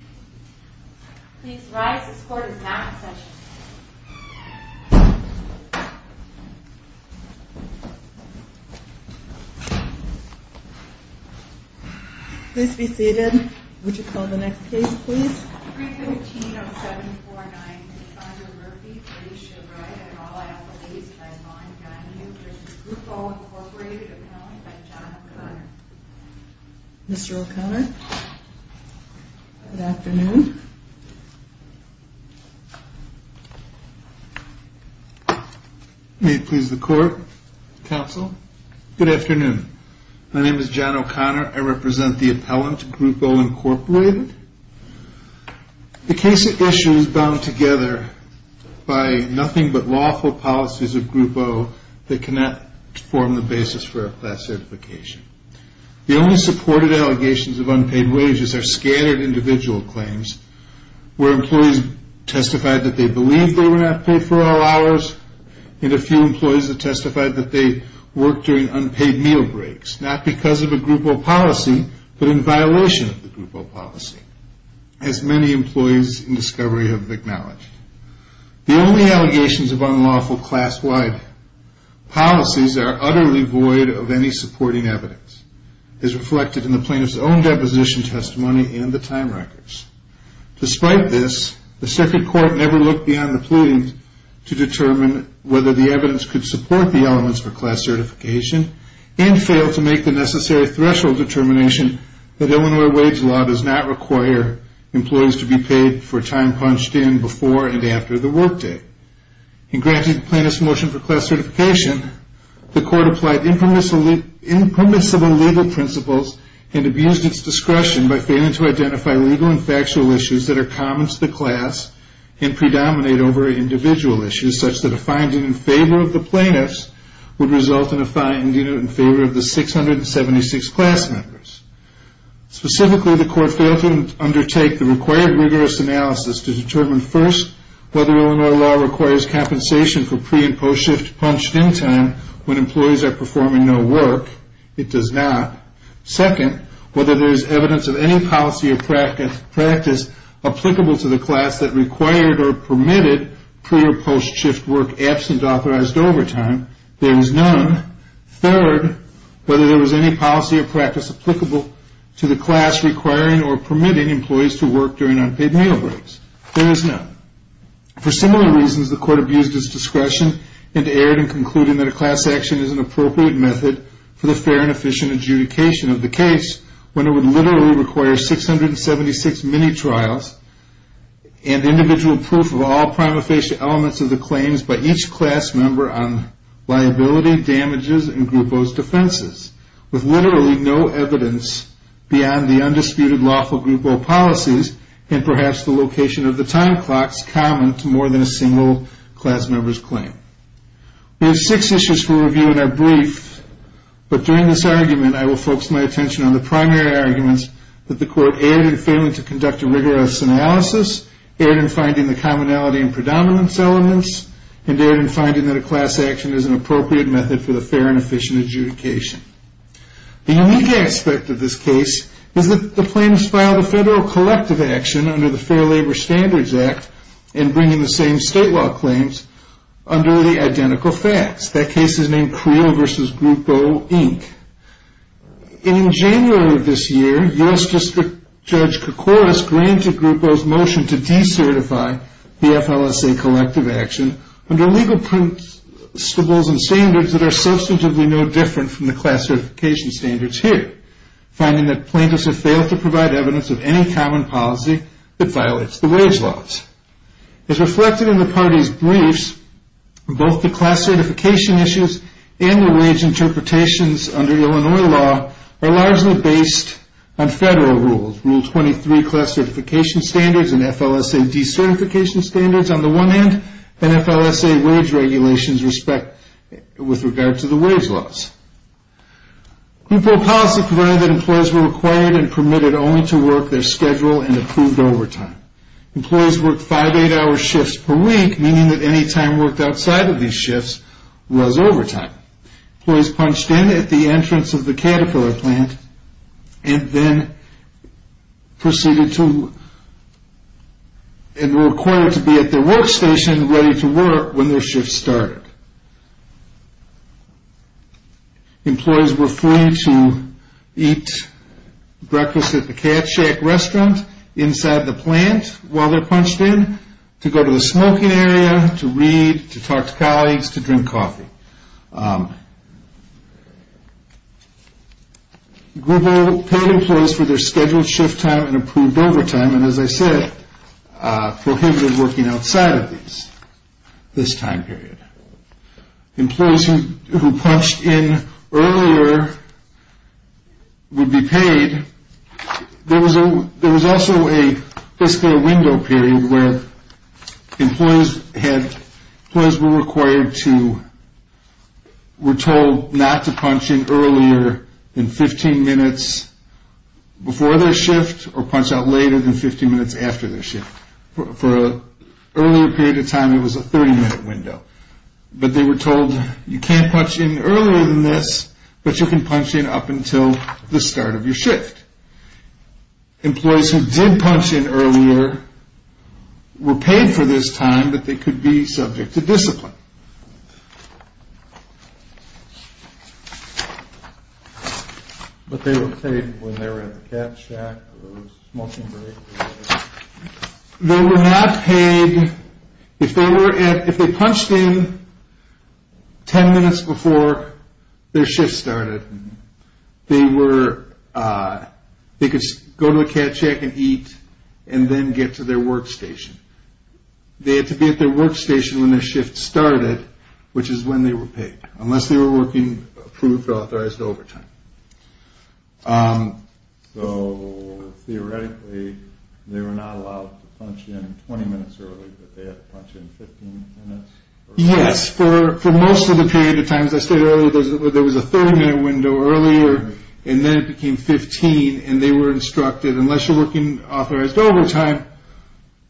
Appellant by John O'Connor. Good afternoon. May it please the court, counsel. Good afternoon. My name is John O'Connor. I represent the appellant, Group O., Inc. The case at issue is bound together by nothing but lawful policies of Group O. that cannot form the basis for a class certification. The only supported allegations of unpaid wages are scattered individual claims where employees testified that they believed they were not paid for all hours and a few employees that testified that they worked during unpaid meal breaks, not because of a Group O. policy, but in violation of the Group O. policy, as many employees in discovery have acknowledged. The only allegations of unlawful class-wide policies are utterly void of any supporting evidence, as reflected in the plaintiff's own deposition testimony and the time records. Despite this, the circuit court never looked beyond the pleadings to determine whether the evidence could support the elements for class certification and failed to make the necessary threshold determination that Illinois wage law does not require employees to be paid for time punched in before and after the work day. In granting the plaintiff's motion for class certification, the court applied impermissible legal principles and abused its discretion by failing to identify legal and factual issues that are common to the class and predominate over individual issues, such that a finding in favor of the plaintiffs would result in a finding in favor of the 676 class members. Specifically, the court failed to undertake the required rigorous analysis to determine, first, whether Illinois law requires compensation for pre- and post-shift punched-in time when employees are performing no work. It does not. Second, whether there is evidence of any policy or practice applicable to the class that required or permitted pre- or post-shift work absent authorized overtime. There is none. Third, whether there was any policy or practice applicable to the class requiring or permitting employees to work during unpaid meal breaks. There is none. For similar reasons, the court abused its discretion and erred in concluding that a class action is an appropriate method for the fair and efficient adjudication of the case when it would literally require 676 mini-trials and individual proof of all prima facie elements of the claims by each class member on liability, damages, and group O's defenses, with literally no evidence beyond the undisputed lawful group O policies and perhaps the location of the time clocks common to more than a single class member's claim. We have six issues for review in our brief, but during this argument I will focus my attention on the primary arguments that the court erred in failing to conduct a rigorous analysis, erred in finding the commonality and predominance elements, and erred in finding that a class action is an appropriate method for the fair and efficient adjudication. The unique aspect of this case is that the plaintiffs filed a federal collective action under the Fair Labor Standards Act in bringing the same state law claims under the identical facts. That case is named Creel v. Group O, Inc. In January of this year, U.S. District Judge Koukouras granted Group O's motion to decertify the FLSA collective action under legal principles and standards that are substantively no different from the class certification standards here, finding that plaintiffs have failed to provide evidence of any common policy that violates the wage laws. As reflected in the parties' briefs, both the class certification issues and the wage interpretations under Illinois law are largely based on federal rules. Rule 23 class certification standards and FLSA decertification standards on the one hand, and FLSA wage regulations respect with regard to the wage laws. Group O policy provided that employees were required and permitted only to work their schedule and approved overtime. Employees worked 5-8 hour shifts per week, meaning that any time worked outside of these shifts was overtime. Employees punched in at the entrance of the Caterpillar plant and were required to be at their workstation ready to work when their shift started. Employees were free to eat breakfast at the Cat Shack restaurant inside the plant while they're punched in, to go to the smoking area, to read, to talk to colleagues, to drink coffee. Group O paid employees for their scheduled shift time and approved overtime, and as I said, prohibited working outside of these, this time period. Employees who punched in earlier would be paid. There was also a fiscal window period where employees were told not to punch in earlier than 15 minutes before their shift or punch out later than 15 minutes after their shift. For an earlier period of time, it was a 30 minute window. But they were told you can't punch in earlier than this, but you can punch in up until the start of your shift. Employees who did punch in earlier were paid for this time, but they could be subject to discipline. But they were paid when they were at the Cat Shack or the smoking area? They were not paid, if they punched in 10 minutes before their shift started, they could go to the Cat Shack and eat and then get to their workstation. They had to be at their workstation when their shift started, which is when they were paid, unless they were working approved or authorized overtime. So, theoretically, they were not allowed to punch in 20 minutes early, but they had to punch in 15 minutes? Yes, for most of the period of time, as I said earlier, there was a 30 minute window earlier, and then it became 15, and they were instructed, unless you're working authorized overtime,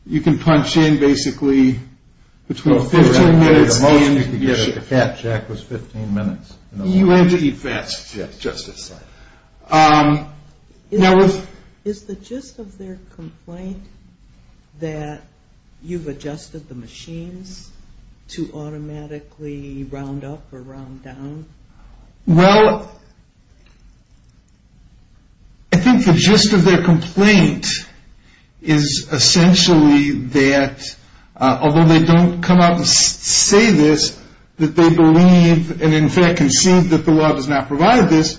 you can punch in, basically, between 15 minutes and the end of your shift. The Cat Shack was 15 minutes. You had to eat fast, Justice. Is the gist of their complaint that you've adjusted the machines to automatically round up or round down? Well, I think the gist of their complaint is essentially that, although they don't come out and say this, that they believe and in fact concede that the law does not provide this,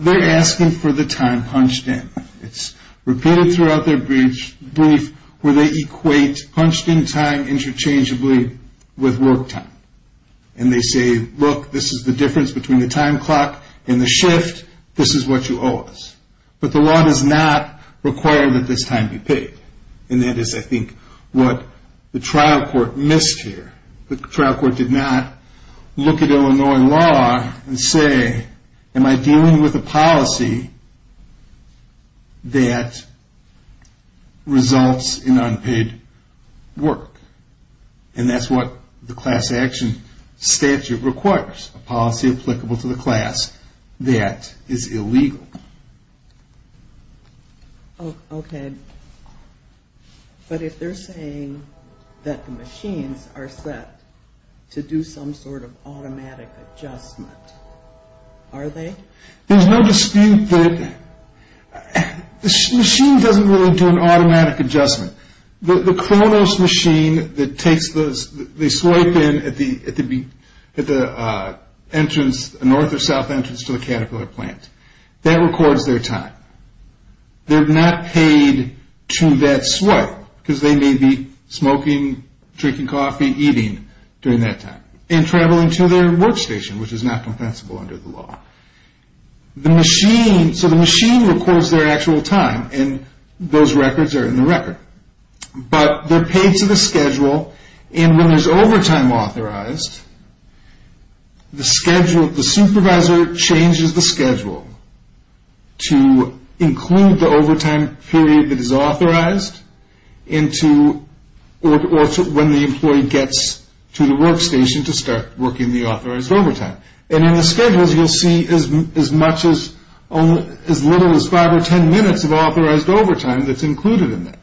they're asking for the time punched in. It's repeated throughout their brief where they equate punched in time interchangeably with work time. And they say, look, this is the difference between the time clock and the shift, this is what you owe us. But the law does not require that this time be paid. And that is, I think, what the trial court missed here. The trial court did not look at Illinois law and say, am I dealing with a policy that results in unpaid work? And that's what the class action statute requires, a policy applicable to the class that is illegal. Okay. But if they're saying that the machines are set to do some sort of automatic adjustment, are they? There's no dispute that the machine doesn't really do an automatic adjustment. The Kronos machine that they swipe in at the entrance, north or south entrance to the Caterpillar plant, that records their time. They're not paid to that swipe because they may be smoking, drinking coffee, eating during that time. And traveling to their workstation, which is not compensable under the law. So the machine records their actual time. And those records are in the record. But they're paid to the schedule. And when there's overtime authorized, the supervisor changes the schedule to include the overtime period that is authorized or when the employee gets to the workstation to start working the authorized overtime. And in the schedules, you'll see as much as little as five or ten minutes of authorized overtime that's included in that.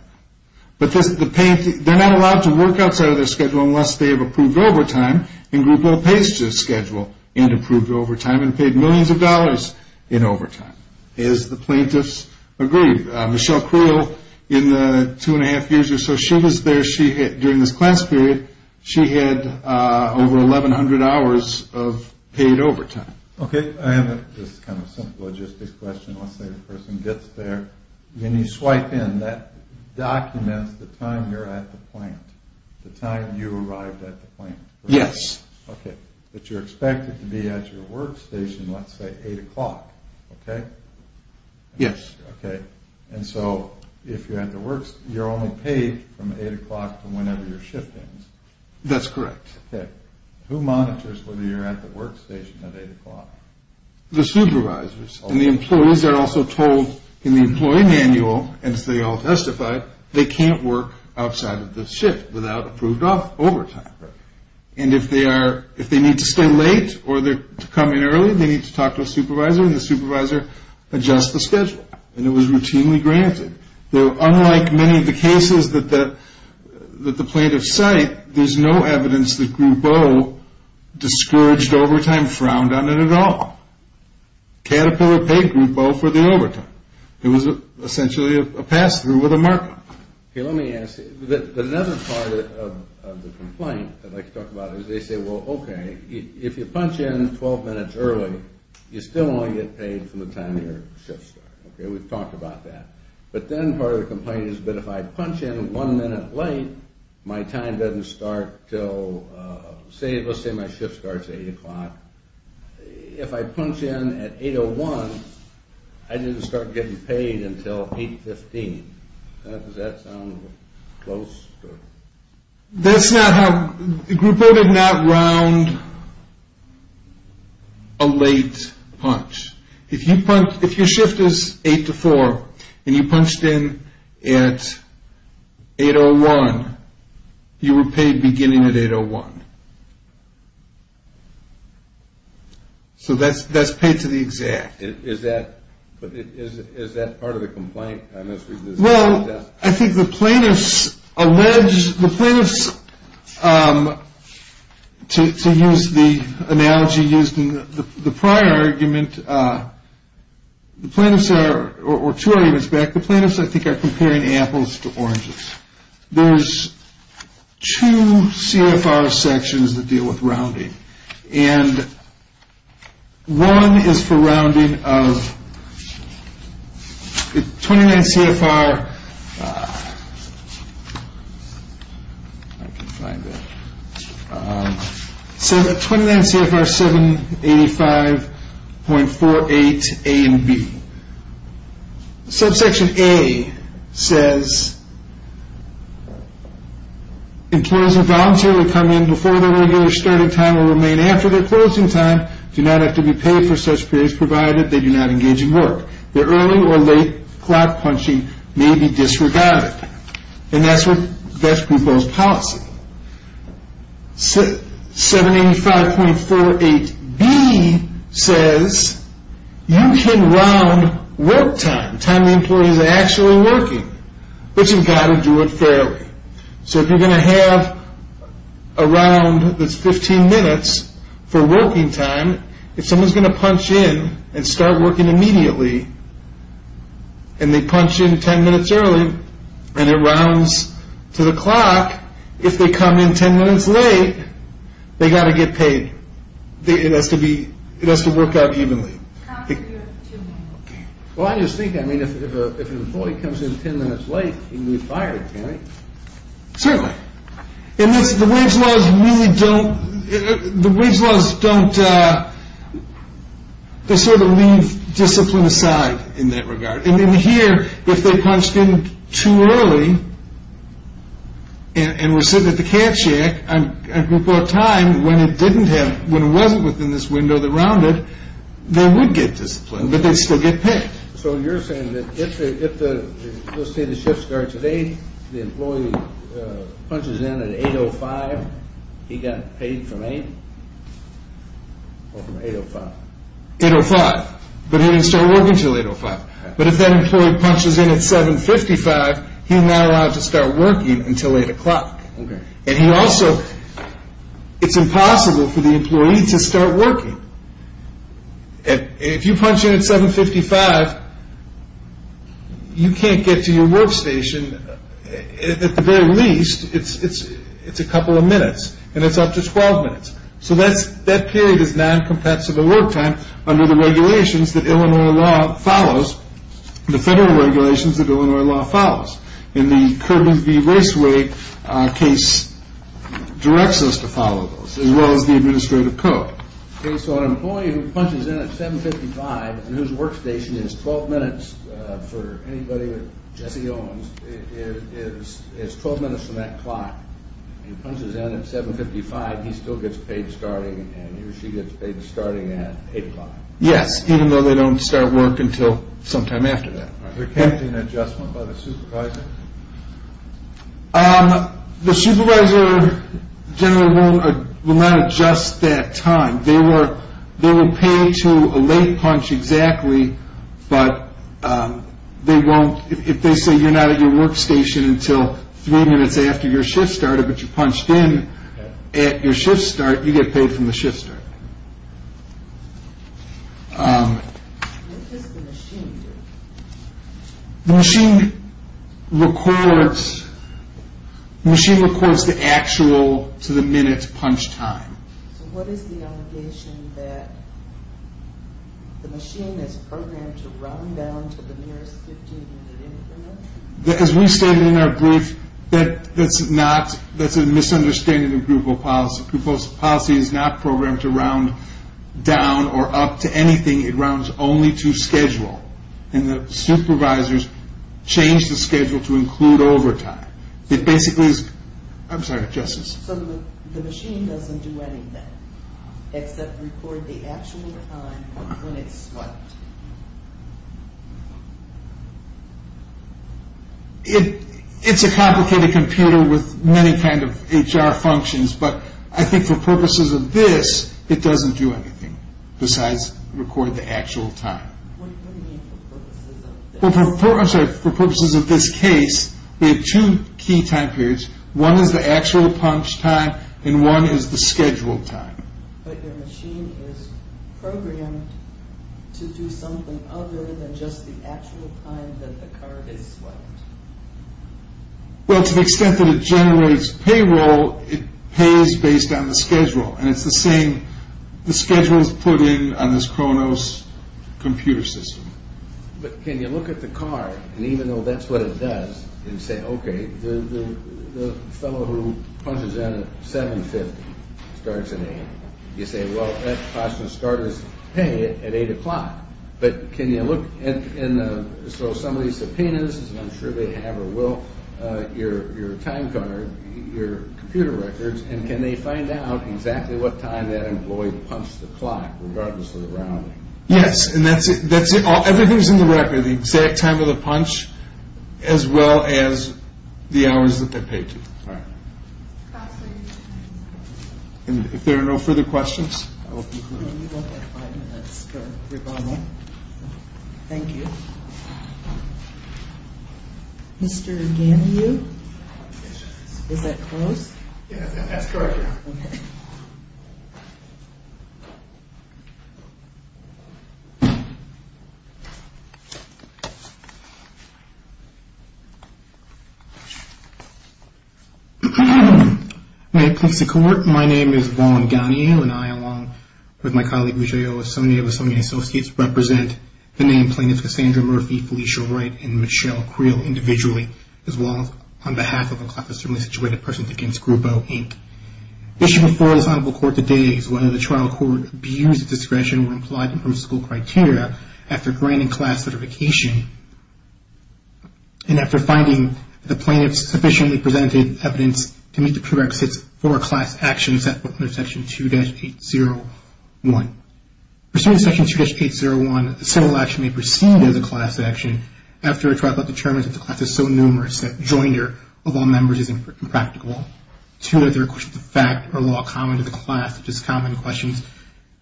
But they're not allowed to work outside of their schedule unless they have approved overtime in Group O pays to the schedule and approved overtime and paid millions of dollars in overtime, as the plaintiffs agreed. Michelle Creel, in the two and a half years or so she was there, during this class period, she had over 1,100 hours of paid overtime. Okay, I have this kind of simple logistic question. Let's say the person gets there. When you swipe in, that documents the time you're at the plant, the time you arrived at the plant. Yes. Okay. But you're expected to be at your workstation, let's say, 8 o'clock. Okay? Yes. Okay. And so if you're at the workstation, you're only paid from 8 o'clock to whenever your shift ends. That's correct. Okay. Who monitors whether you're at the workstation at 8 o'clock? The supervisors. And the employees are also told in the employee manual, as they all testified, they can't work outside of the shift without approved overtime. Right. And if they need to stay late or to come in early, they need to talk to a supervisor, and the supervisor adjusts the schedule. And it was routinely granted. Unlike many of the cases that the plaintiffs cite, there's no evidence that Group O discouraged overtime, frowned on it at all. Caterpillar paid Group O for the overtime. It was essentially a pass-through with a markup. Okay, let me ask you. Another part of the complaint that I'd like to talk about is they say, well, okay, if you punch in 12 minutes early, you still only get paid from the time your shift starts. Okay, we've talked about that. But then part of the complaint is, but if I punch in one minute late, my time doesn't start until, let's say my shift starts at 8 o'clock. If I punch in at 8.01, I didn't start getting paid until 8.15. Does that sound close? That's not how – Group O did not round a late punch. If your shift is 8 to 4 and you punched in at 8.01, you were paid beginning at 8.01. So that's paid to the exact. Is that part of the complaint? Well, I think the plaintiffs allege – the plaintiffs, to use the analogy used in the prior argument, the plaintiffs are – or two arguments back, the plaintiffs, I think, are comparing apples to oranges. There's two CFR sections that deal with rounding. And one is for rounding of – 29 CFR – I can't find it. It says that 29 CFR 785.48 A and B. Subsection A says, Employees who voluntarily come in before their regular starting time or remain after their closing time do not have to be paid for such periods provided they do not engage in work. Their early or late clock punching may be disregarded. And that's Group O's policy. 785.48 B says, You can round work time, time the employee is actually working, but you've got to do it fairly. So if you're going to have a round that's 15 minutes for working time, if someone's going to punch in and start working immediately and they punch in 10 minutes early and it rounds to the clock, if they come in 10 minutes late, they've got to get paid. It has to be – it has to work out evenly. Well, I just think, I mean, if an employee comes in 10 minutes late, he can be fired, can't he? Certainly. And the wage laws really don't – the wage laws don't – they sort of leave discipline aside in that regard. And in here, if they punched in too early and were sitting at the cat shack on Group O time when it didn't have – when it wasn't within this window that rounded, they would get disciplined, but they'd still get paid. So you're saying that if the – let's say the shift starts at 8, the employee punches in at 8.05, he got paid from 8 or from 8.05? 8.05, but he didn't start working until 8.05. But if that employee punches in at 7.55, he's not allowed to start working until 8.00. And he also – it's impossible for the employee to start working. If you punch in at 7.55, you can't get to your workstation. At the very least, it's a couple of minutes and it's up to 12 minutes. So that period is noncompetitive at work time under the regulations that Illinois law follows, the federal regulations that Illinois law follows. In the Kirby v. Raceway case, it directs us to follow those as well as the administrative code. Okay, so an employee who punches in at 7.55 and whose workstation is 12 minutes, for anybody with Jesse Owens, it's 12 minutes from that clock. He punches in at 7.55, he still gets paid starting and he or she gets paid starting at 8.05. Yes, even though they don't start work until sometime after that. Is there an adjustment by the supervisor? The supervisor generally will not adjust that time. They will pay to a late punch exactly, but they won't – if they say you're not at your workstation until three minutes after your shift started, but you punched in at your shift start, you get paid from the shift start. What does the machine do? The machine records the actual to the minute punch time. So what is the allegation that the machine is programmed to round down to the nearest 15 minute increment? As we stated in our brief, that's a misunderstanding of group policy. Group policy is not programmed to round down or up to anything. It rounds only to schedule, and the supervisors change the schedule to include overtime. It basically is – I'm sorry, Justice. So the machine doesn't do anything except record the actual time when it's swiped? It's a complicated computer with many kind of HR functions, but I think for purposes of this, it doesn't do anything besides record the actual time. What do you mean for purposes of this? For purposes of this case, we have two key time periods. One is the actual punch time, and one is the scheduled time. But your machine is programmed to do something other than just the actual time that the card is swiped. Well, to the extent that it generates payroll, it pays based on the schedule, and it's the same – the schedule is put in on this Kronos computer system. But can you look at the card, and even though that's what it does, and say, okay, the fellow who punches in at 7.50 starts at 8.00, you say, well, that cost the starter's pay at 8.00. But can you look – so some of these subpoenas, I'm sure they have or will, your time card, your computer records, and can they find out exactly what time that employee punched the clock, regardless of the rounding? Yes, and that's – everything's in the record. So the exact time of the punch, as well as the hours that they're paid to. All right. And if there are no further questions, I will conclude. We only have five minutes, but we're going on. Thank you. Mr. Ganiu? Is that close? Yes, that's correct. Okay. Thank you. May it please the Court, my name is Vaughn Ganiu, and I, along with my colleague, Vijay O. Esonwune of Esonwune Associates, represent the name plaintiffs Cassandra Murphy, Felicia Wright, and Michelle Creel individually, as well as on behalf of a class of similarly situated persons against Grubo, Inc. The issue before this Honorable Court today is whether the trial court views that discretion were implied in principle criteria after granting class certification and after finding that the plaintiffs sufficiently presented evidence to meet the prerequisites for a class action set forth under Section 2-801. Pursuant to Section 2-801, a civil action may proceed as a class action after a trial court determines that the class is so numerous that joinder of all members is impractical. Two, are there questions of fact or law common to the class, such as common questions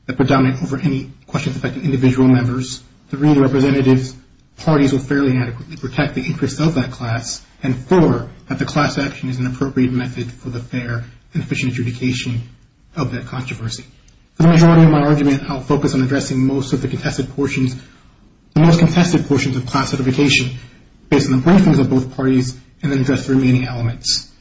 that predominate over any questions affecting individual members. Three, the representative parties will fairly adequately protect the interests of that class. And four, that the class action is an appropriate method for the fair and efficient adjudication of that controversy. For the majority of my argument, I will focus on addressing most of the contested portions, the most contested portions of class certification based on the briefings of both parties and then address the remaining elements.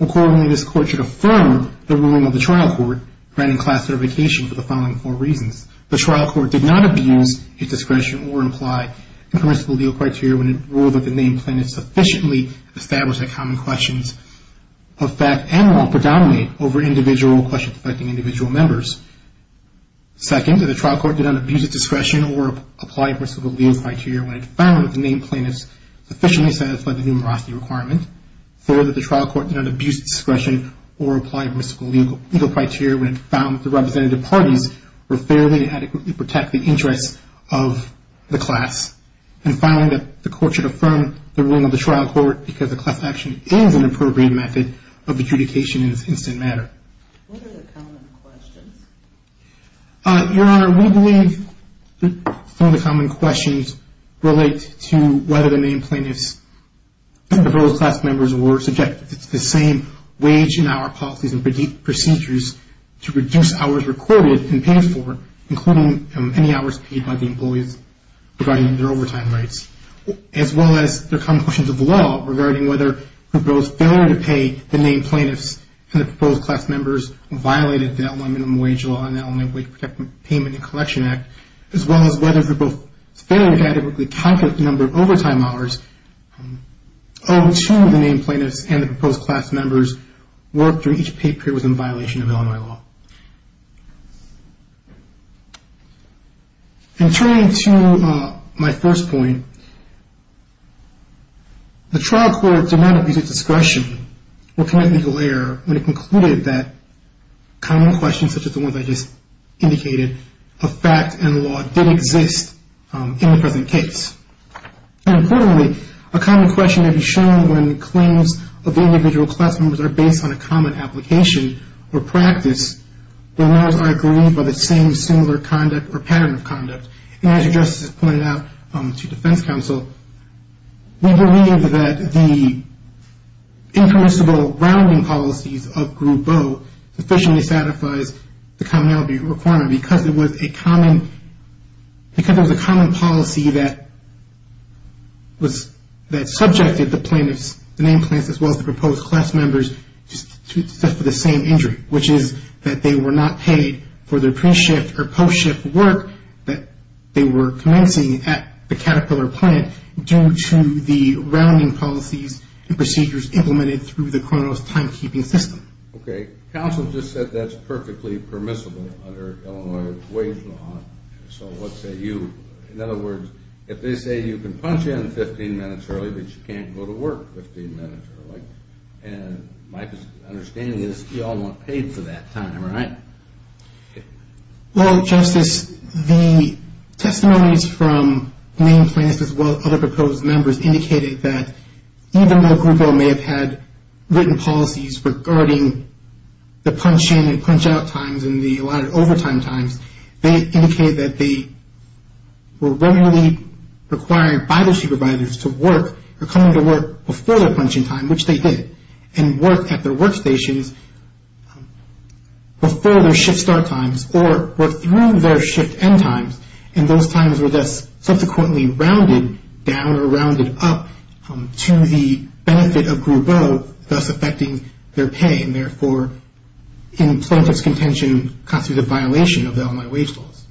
Accordingly, this court should affirm the ruling of the trial court granting class certification for the following four reasons. The trial court did not abuse its discretion or imply in principle legal criteria when it ruled that the named plaintiffs sufficiently established that common questions of fact and law predominate over individual questions affecting individual members. Second, that the trial court did not abuse its discretion or apply principle legal criteria when it found that the named plaintiffs sufficiently satisfied the numerosity requirement. Third, that the trial court did not abuse its discretion or apply principle legal criteria when it found that the representative parties were fairly adequately protecting interests of the class. And finally, that the court should affirm the ruling of the trial court because the class action is an appropriate method of adjudication in this instant matter. What are the common questions? Your Honor, we believe that some of the common questions relate to whether the named plaintiffs and the proposed class members were subjected to the same wage and hour policies and procedures to reduce hours required and paid for, including any hours paid by the employees regarding their overtime rights, as well as the common questions of law regarding whether the proposed failure to pay the named plaintiffs and the proposed class members violated the LMI minimum wage law and the LMI Wage Protection Payment and Collection Act, as well as whether the both fairly adequately calculated number of overtime hours owed to the named plaintiffs and the proposed class members worked during each paid period within violation of Illinois law. And turning to my first point, the trial court did not abuse its discretion or commit legal error when it concluded that common questions such as the ones I just indicated of fact and law did exist in the present case. And importantly, a common question may be shown when claims of individual class members are based on a common application or practice, when those are agreed by the same singular conduct or pattern of conduct. And as Your Justice has pointed out to defense counsel, we believe that the impermissible rounding policies of Group O sufficiently satisfies the commonality requirement because it was a common policy that subjected the plaintiffs, the named plaintiffs, as well as the proposed class members to the same injury, which is that they were not paid for their pre-shift or post-shift work that they were commencing at the Caterpillar plant due to the rounding policies and procedures implemented through the Kronos timekeeping system. Okay. Counsel just said that's perfectly permissible under Illinois Ways and Laws. So what say you? In other words, if they say you can punch in 15 minutes early, but you can't go to work 15 minutes early, and my understanding is you all weren't paid for that time, right? Well, Justice, the testimonies from named plaintiffs as well as other proposed members indicated that even though Group O may have had written policies regarding the punch-in and punch-out times and the allotted overtime times, they indicated that they were regularly requiring bible-sheet providers to work or come into work before their punch-in time, which they did, and work at their workstations before their shift start times or were through their shift end times, and those times were just subsequently rounded down or rounded up to the benefit of Group O, thus affecting their pay, and therefore in plaintiff's contention constitute a violation of the Illinois Ways and Laws.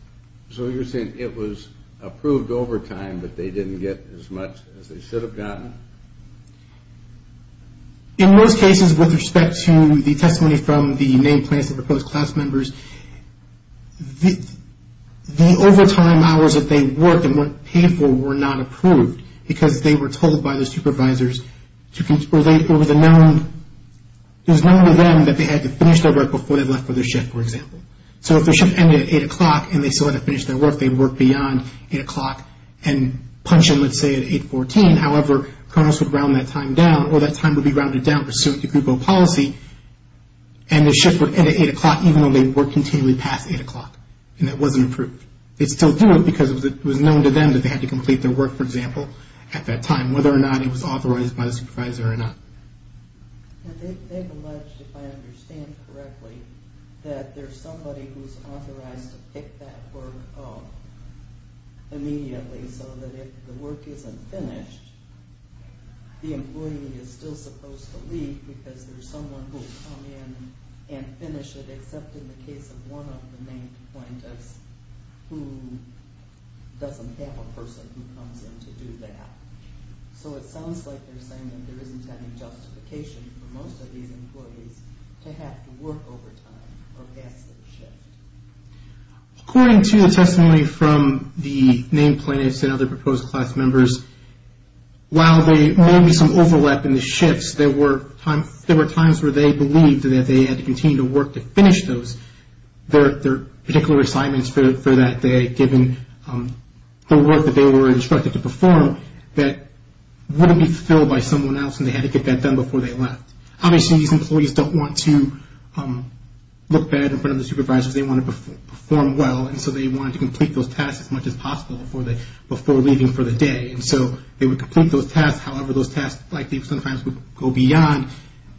So you're saying it was approved overtime, but they didn't get as much as they should have gotten? In most cases, with respect to the testimony from the named plaintiffs and proposed class members, the overtime hours that they worked and weren't paid for were not approved because they were told by the supervisors or it was known to them that they had to finish their work So if their shift ended at 8 o'clock and they still had to finish their work, they'd work beyond 8 o'clock and punch-in, let's say, at 8.14, however, criminals would round that time down or that time would be rounded down pursuant to Group O policy, and their shift would end at 8 o'clock even though they'd work continually past 8 o'clock, and that wasn't approved. They'd still do it because it was known to them that they had to complete their work, for example, at that time, whether or not it was authorized by the supervisor or not. They've alleged, if I understand correctly, that there's somebody who's authorized to pick that work up immediately so that if the work isn't finished, the employee is still supposed to leave because there's someone who'll come in and finish it except in the case of one of the named plaintiffs who doesn't have a person who comes in to do that. So it sounds like they're saying that there isn't any justification for most of these employees to have to work overtime or pass their shift. According to the testimony from the named plaintiffs and other proposed class members, while there may be some overlap in the shifts, there were times where they believed that they had to continue to work to finish those, their particular assignments for that day, given the work that they were instructed to perform, that wouldn't be fulfilled by someone else and they had to get that done before they left. Obviously, these employees don't want to look bad in front of the supervisors. They want to perform well, and so they wanted to complete those tasks as much as possible before leaving for the day. And so they would complete those tasks. However, those tasks likely sometimes would go beyond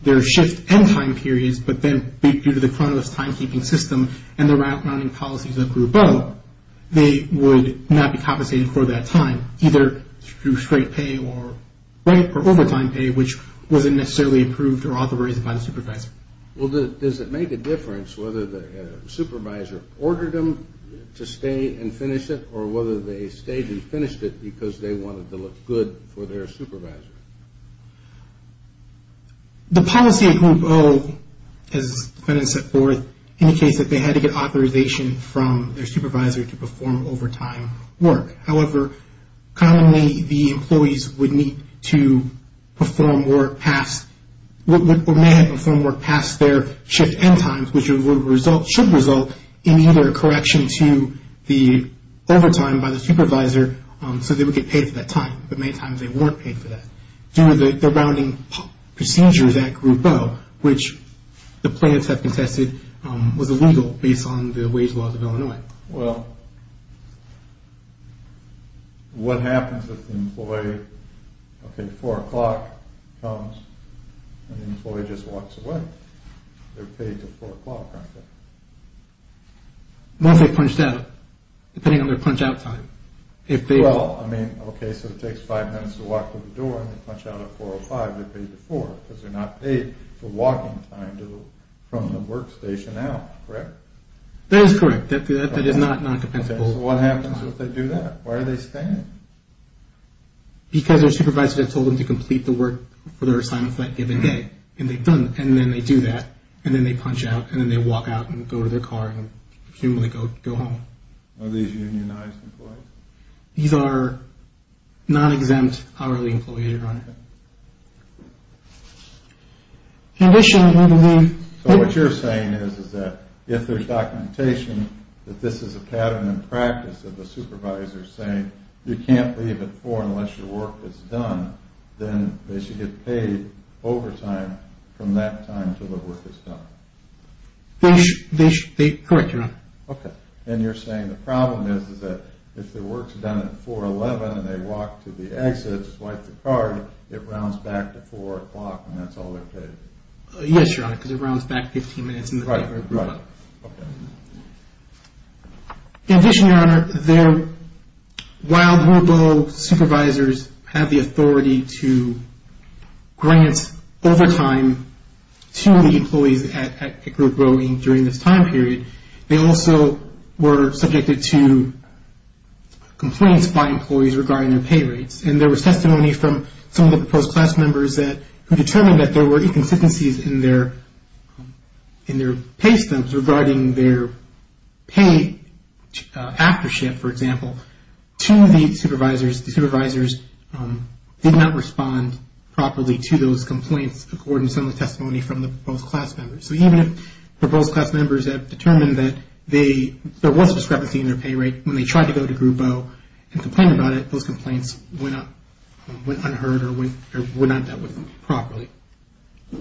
their shift and time periods, but then due to the chronic timekeeping system and the routing policies of Group O, they would not be compensated for that time, either through straight pay or overtime pay, which wasn't necessarily approved or authorized by the supervisor. Well, does it make a difference whether the supervisor ordered them to stay and finish it or whether they stayed and finished it because they wanted to look good for their supervisor? The policy of Group O, as the defendant set forth, indicates that they had to get authorization from their supervisor to perform overtime work. However, commonly the employees would need to perform work past or may have performed work past their shift end times, which should result in either a correction to the overtime by the supervisor so they would get paid for that time, but many times they weren't paid for that, due to the routing procedures at Group O, which the plaintiffs have contested was illegal based on the wage laws of Illinois. Well, what happens if the employee, okay, 4 o'clock comes and the employee just walks away? They're paid to 4 o'clock, aren't they? Once they're punched out, depending on their punch-out time. Well, I mean, okay, so it takes 5 minutes to walk to the door and they punch out at 4.05, because they're not paid for walking time from the workstation out, correct? That is correct. That is not non-compensable. Okay, so what happens if they do that? Why are they staying? Because their supervisor told them to complete the work for their assignment for that given day, and then they do that, and then they punch out, and then they walk out and go to their car and presumably go home. Are these unionized employees? These are non-exempt hourly employees, Your Honor. So what you're saying is that if there's documentation that this is a pattern in practice that the supervisor is saying you can't leave at 4 unless your work is done, then they should get paid overtime from that time until the work is done. Correct, Your Honor. Okay, and you're saying the problem is that if their work is done at 4.11 and they walk to the exit, swipe the card, it rounds back to 4 o'clock and that's all they're paid. Yes, Your Honor, because it rounds back 15 minutes in the break room. Right, right. Okay. In addition, Your Honor, while the supervisors have the authority to grant overtime to the employees at Pickard Growing during this time period, they also were subjected to complaints by employees regarding their pay rates, and there was testimony from some of the proposed class members who determined that there were inconsistencies in their pay stumps regarding their pay aftership, for example, to the supervisors. The supervisors did not respond properly to those complaints according to some of the testimony from the proposed class members. So even if the proposed class members have determined that there was discrepancy in their pay rate when they tried to go to Group O and complain about it, those complaints went unheard or were not dealt with properly. I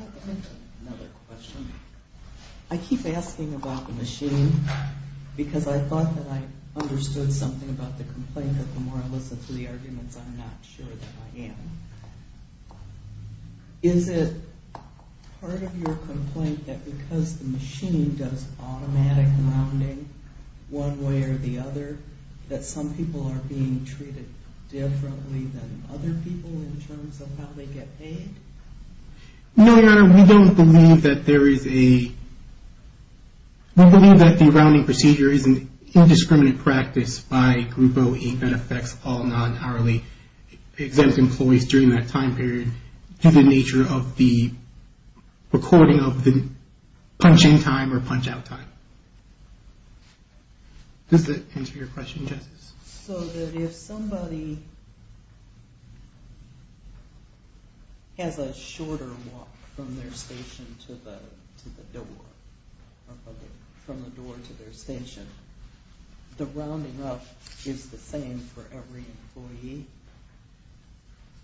have another question. I keep asking about the machine because I thought that I understood something about the complaint, but the more I listen to the arguments, I'm not sure that I am. Is it part of your complaint that because the machine does automatic rounding one way or the other, that some people are being treated differently than other people in terms of how they get paid? No, Your Honor, we don't believe that there is a... practice by Group O that affects all non-hourly exempt employees during that time period due to the nature of the recording of the punch-in time or punch-out time. Does that answer your question, Justice? So that if somebody has a shorter walk from their station to the door, from the door to their station, the rounding up is the same for every employee?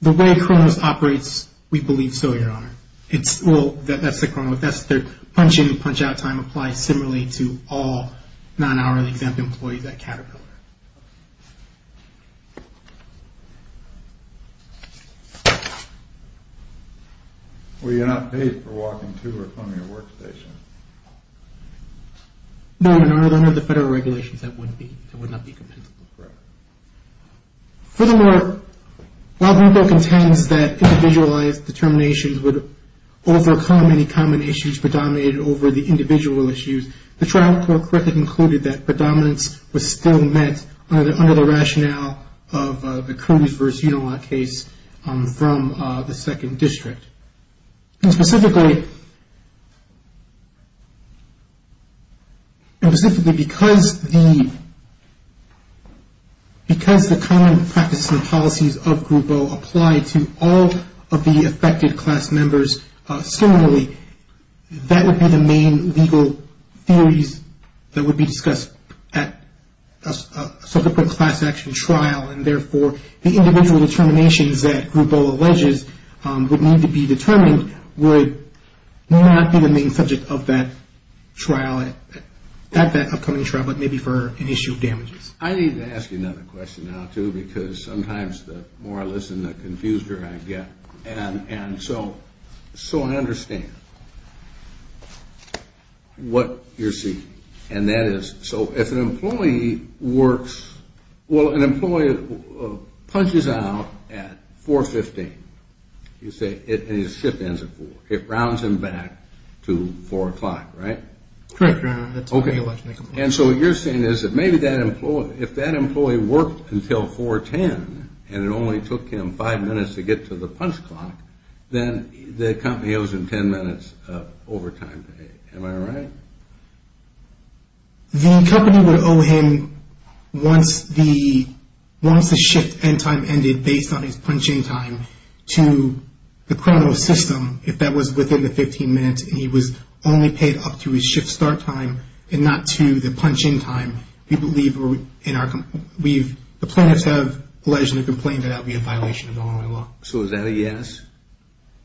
The way Cronos operates, we believe so, Your Honor. Well, that's the Cronos. Their punch-in and punch-out time applies similarly to all non-hourly exempt employees at Caterpillar. Well, you're not paid for walking to or from your workstation. No, Your Honor. Under the federal regulations, that would not be compensable. Correct. Furthermore, while Group O contends that individualized determinations would overcome any common issues predominating over the individual issues, the trial court quickly concluded that predominance was still met under the rationale of the Curtis v. Unala case from the Second District. And specifically because the common practices and policies of Group O apply to all of the affected class members, similarly, that would be the main legal theories that would be discussed at a subsequent class action trial. And therefore, the individual determinations that Group O alleges would need to be determined would not be the main subject of that trial, at that upcoming trial, but maybe for an issue of damages. I need to ask you another question now, too, because sometimes the more I listen, the confuseder I get. And so I understand what you're seeking. And that is, so if an employee works – well, an employee punches out at 4.15 and his shift ends at 4, it rounds him back to 4 o'clock, right? Correct, Your Honor. And so what you're saying is that maybe that employee – if that employee worked until 4.10 and it only took him five minutes to get to the punch clock, then the company owes him ten minutes of overtime. Am I right? The company would owe him once the shift end time ended based on his punching time to the criminal system if that was within the 15 minutes and he was only paid up to his shift start time and not to the punching time. The plaintiffs have allegedly complained that that would be a violation of Illinois law. So is that a yes?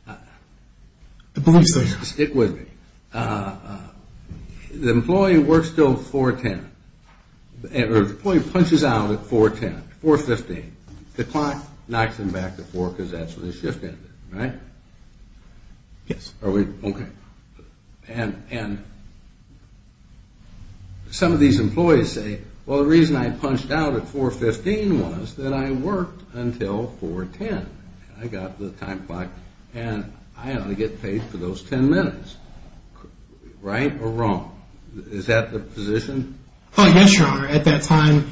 I believe so, yes. Stick with me. The employee works until 4.10, or the employee punches out at 4.10, 4.15. The clock knocks him back to 4 because that's when his shift ended, right? Yes. Are we – okay. And some of these employees say, well, the reason I punched out at 4.15 was that I worked until 4.10. I got to the time clock and I only get paid for those ten minutes. Right or wrong? Is that the position? Yes, Your Honor. At that time,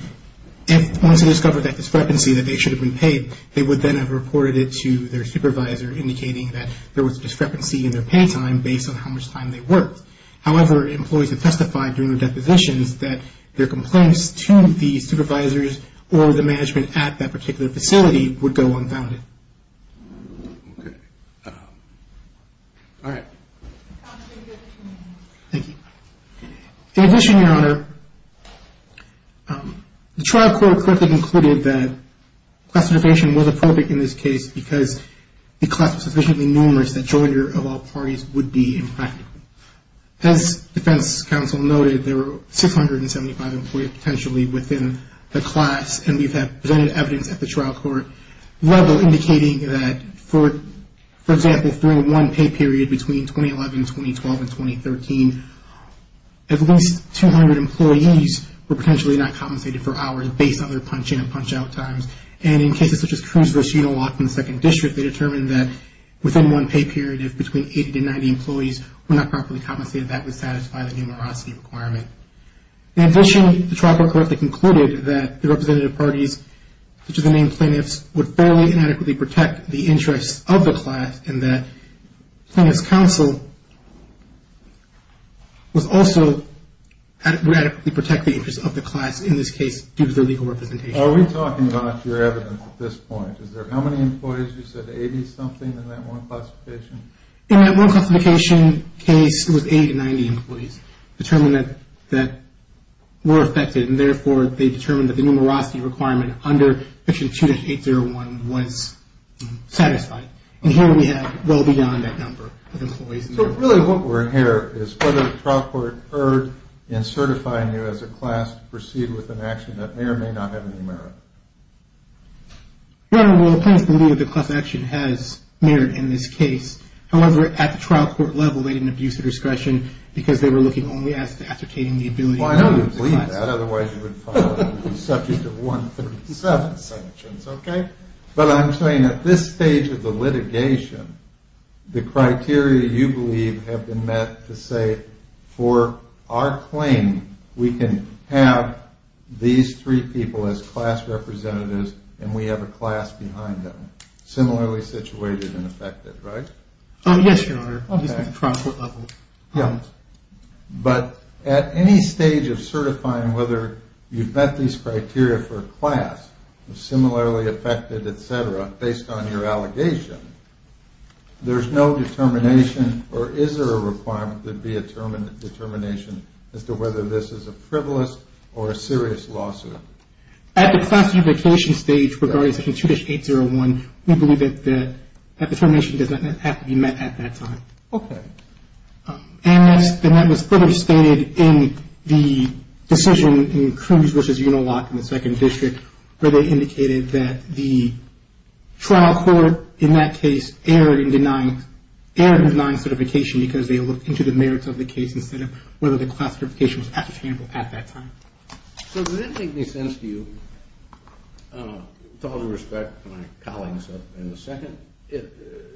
once they discovered that discrepancy that they should have been paid, they would then have reported it to their supervisor indicating that there was a discrepancy in their pay time based on how much time they worked. However, employees have testified during their depositions that their complaints to the supervisors or the management at that particular facility would go unfounded. Okay. All right. Thank you. In addition, Your Honor, the trial court quickly concluded that classification was appropriate in this case because the class was sufficiently numerous that joinder of all parties would be impractical. As defense counsel noted, there were 675 employees potentially within the class, and we have presented evidence at the trial court level indicating that, for example, if during one pay period between 2011, 2012, and 2013, at least 200 employees were potentially not compensated for hours based on their punch-in and punch-out times. And in cases such as Cruz versus Unaloft in the Second District, they determined that within one pay period, if between 80 to 90 employees were not properly compensated, that would satisfy the numerosity requirement. In addition, the trial court quickly concluded that the representative parties, such as the main plaintiffs, would fairly and adequately protect the interests of the class and that plaintiff's counsel would also adequately protect the interests of the class, in this case, due to their legal representation. Are we talking about your evidence at this point? Is there how many employees? You said 80-something in that one classification? In that one classification case, it was 80 to 90 employees determined that were affected, and therefore they determined that the numerosity requirement under section 2-801 was satisfied. And here we have well beyond that number of employees. So really what we're hearing is whether the trial court occurred in certifying you as a class to proceed with an action that may or may not have any merit. Well, the plaintiffs believe that the class action has merit in this case. However, at the trial court level, they didn't abuse the discretion Well, I know you believe that, otherwise you would be subject to 137 sanctions, okay? But I'm saying at this stage of the litigation, the criteria you believe have been met to say, for our claim, we can have these three people as class representatives and we have a class behind them, similarly situated and affected, right? Yes, Your Honor. Obviously at the trial court level. But at any stage of certifying whether you've met these criteria for class, similarly affected, et cetera, based on your allegation, there's no determination or is there a requirement that there be a determination as to whether this is a frivolous or a serious lawsuit? At the classification stage, regarding section 2-801, we believe that that determination does not have to be met at that time. Okay. And that was clearly stated in the decision in Cruz v. Unalock in the Second District where they indicated that the trial court in that case erred in denying certification because they looked into the merits of the case instead of whether the class certification was applicable at that time. So does it make any sense to you, with all due respect to my colleagues in the second,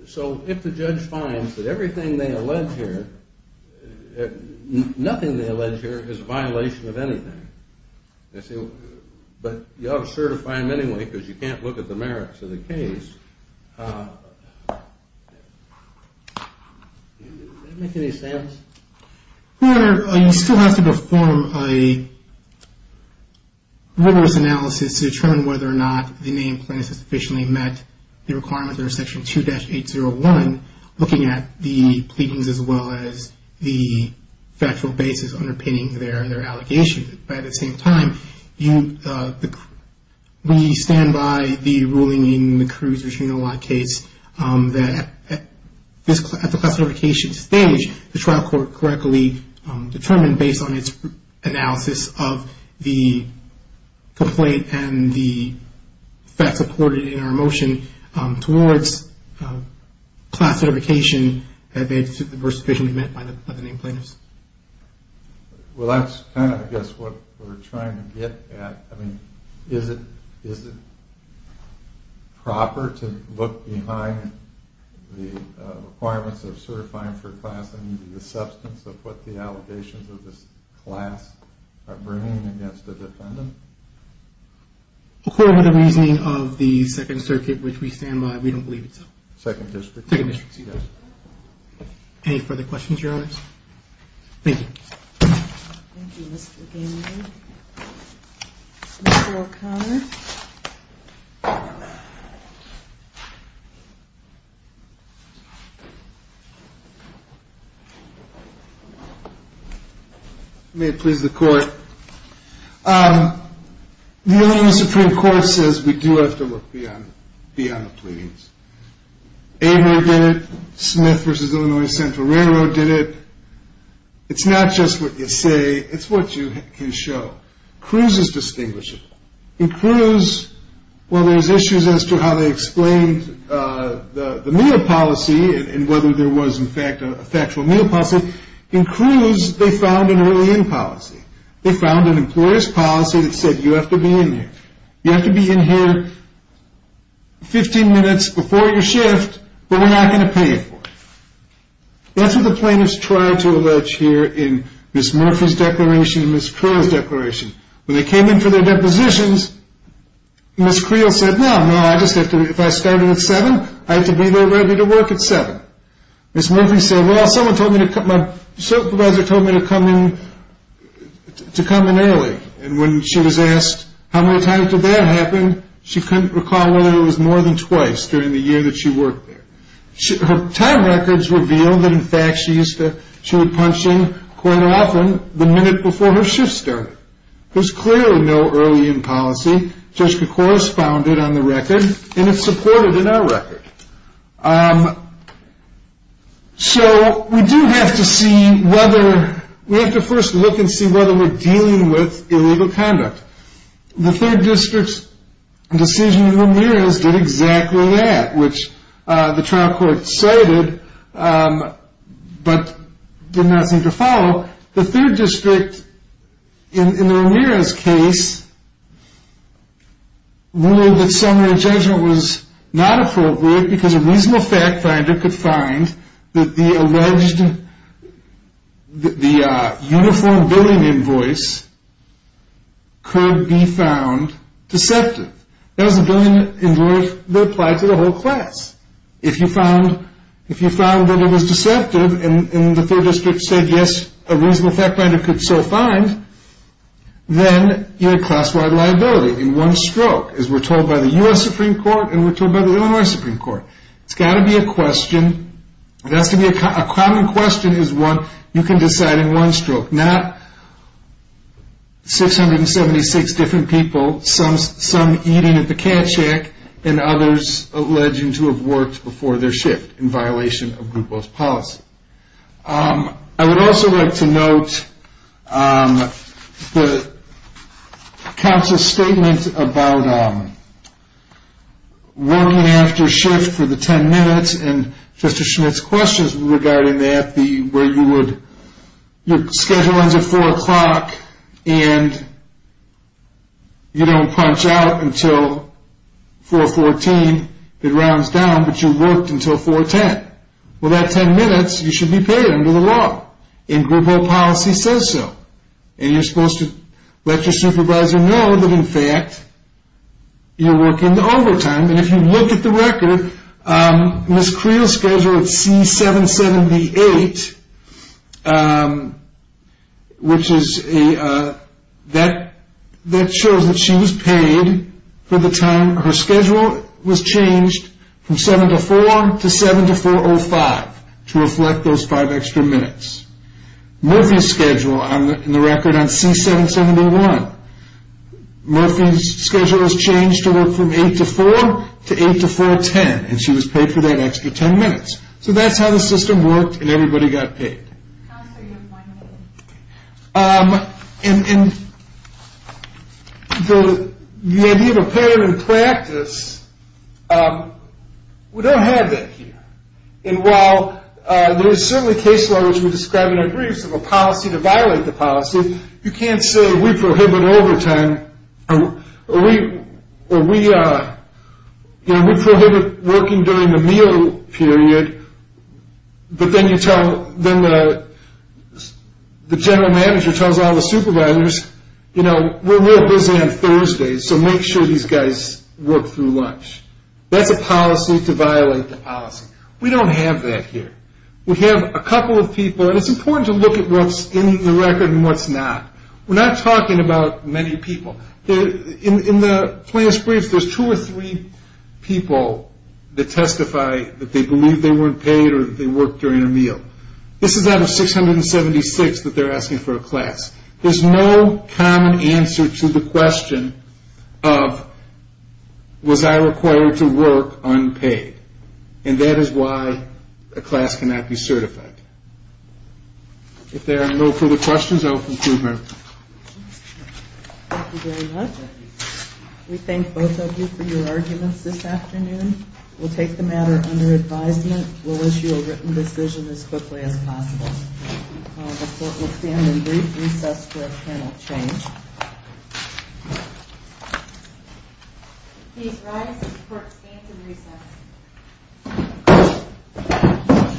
so if the judge finds that everything they allege here, nothing they allege here is a violation of anything, but you ought to certify them anyway because you can't look at the merits of the case, does that make any sense? Your Honor, you still have to perform a rigorous analysis to determine whether or not the name plaintiff has sufficiently met the requirements under section 2-801, looking at the pleadings as well as the factual basis underpinning their allegation. At the same time, we stand by the ruling in the Cruz v. Unalock case that at the classification stage, the trial court correctly determined based on its analysis of the complaint and the facts supported in our motion towards class certification that they were sufficiently met by the name plaintiffs. Well, that's kind of, I guess, what we're trying to get at. I mean, is it proper to look behind the requirements of certifying for class and the substance of what the allegations of this class are bringing against the defendant? According to the reasoning of the Second Circuit, which we stand by, we don't believe it's a... Second District. Second District, yes. Any further questions, Your Honor? Thank you. Thank you, Mr. Gamble. Mr. O'Connor. May it please the Court. The Illinois Supreme Court says we do have to look beyond the pleadings. ABO did it. Smith v. Illinois Central Railroad did it. It's not just what you say, it's what you can show. Cruz is distinguishable. In Cruz, while there's issues as to how they explained the meal policy and whether there was, in fact, a factual meal policy, in Cruz they found an early end policy. They found an employer's policy that said you have to be in here. You have to be in here 15 minutes before your shift, but we're not going to pay you for it. That's what the plaintiffs tried to allege here in Ms. Murphy's declaration and Ms. Creel's declaration. When they came in for their depositions, Ms. Creel said, no, no, I just have to, if I started at 7, I have to be there ready to work at 7. Ms. Murphy said, well, someone told me, my supervisor told me to come in early, and when she was asked how many times did that happen, she couldn't recall whether it was more than twice during the year that she worked there. Her time records revealed that, in fact, she used to, she would punch in quite often the minute before her shift started. There's clearly no early end policy. Judge Kikoris found it on the record, and it's supported in our record. So we do have to see whether, we have to first look and see whether we're dealing with illegal conduct. The third district's decision in Ramirez did exactly that, which the trial court cited but did not seem to follow. The third district, in Ramirez's case, ruled that summary judgment was not appropriate because a reasonable fact finder could find that the alleged, the uniform billing invoice could be found deceptive. That was a billing invoice that applied to the whole class. If you found that it was deceptive and the third district said, yes, a reasonable fact finder could so find, then you had class-wide liability in one stroke, as we're told by the U.S. Supreme Court and we're told by the Illinois Supreme Court. It's got to be a question, it has to be a common question, is one you can decide in one stroke, not 676 different people, some eating at the cat shack and others alleging to have worked before their shift, in violation of group boss policy. I would also like to note the counsel's statement about working after shift for the 10 minutes and Justice Schmidt's questions regarding that, where you would, your schedule ends at 4 o'clock and you don't punch out until 4.14, it rounds down, but you worked until 4.10. Well, that 10 minutes, you should be paid under the law and group boss policy says so. And you're supposed to let your supervisor know that, in fact, you're working overtime. And if you look at the record, Ms. Creel's schedule at C778, which is a, that shows that she was paid for the time, her schedule was changed from 7 to 4 to 7 to 4.05, to reflect those five extra minutes. Murphy's schedule in the record on C771, Murphy's schedule was changed to work from 8 to 4, to 8 to 4.10, and she was paid for that extra 10 minutes. So that's how the system worked and everybody got paid. And the idea of a pattern in practice, we don't have that here. And while there is certainly case law, which we describe in our briefs, a policy to violate the policy, you can't say we prohibit overtime, or we prohibit working during the meal period, but then you tell, then the general manager tells all the supervisors, you know, we're real busy on Thursdays, so make sure these guys work through lunch. That's a policy to violate the policy. We don't have that here. We have a couple of people, and it's important to look at what's in the record and what's not. We're not talking about many people. In the class briefs, there's two or three people that testify that they believe they weren't paid or that they worked during a meal. This is out of 676 that they're asking for a class. There's no common answer to the question of, was I required to work unpaid? And that is why a class cannot be certified. If there are no further questions, I will conclude here. Thank you very much. We thank both of you for your arguments this afternoon. We'll take the matter under advisement. We'll issue a written decision as quickly as possible. The court will stand in brief recess for a panel change. Please rise. The court stands in recess.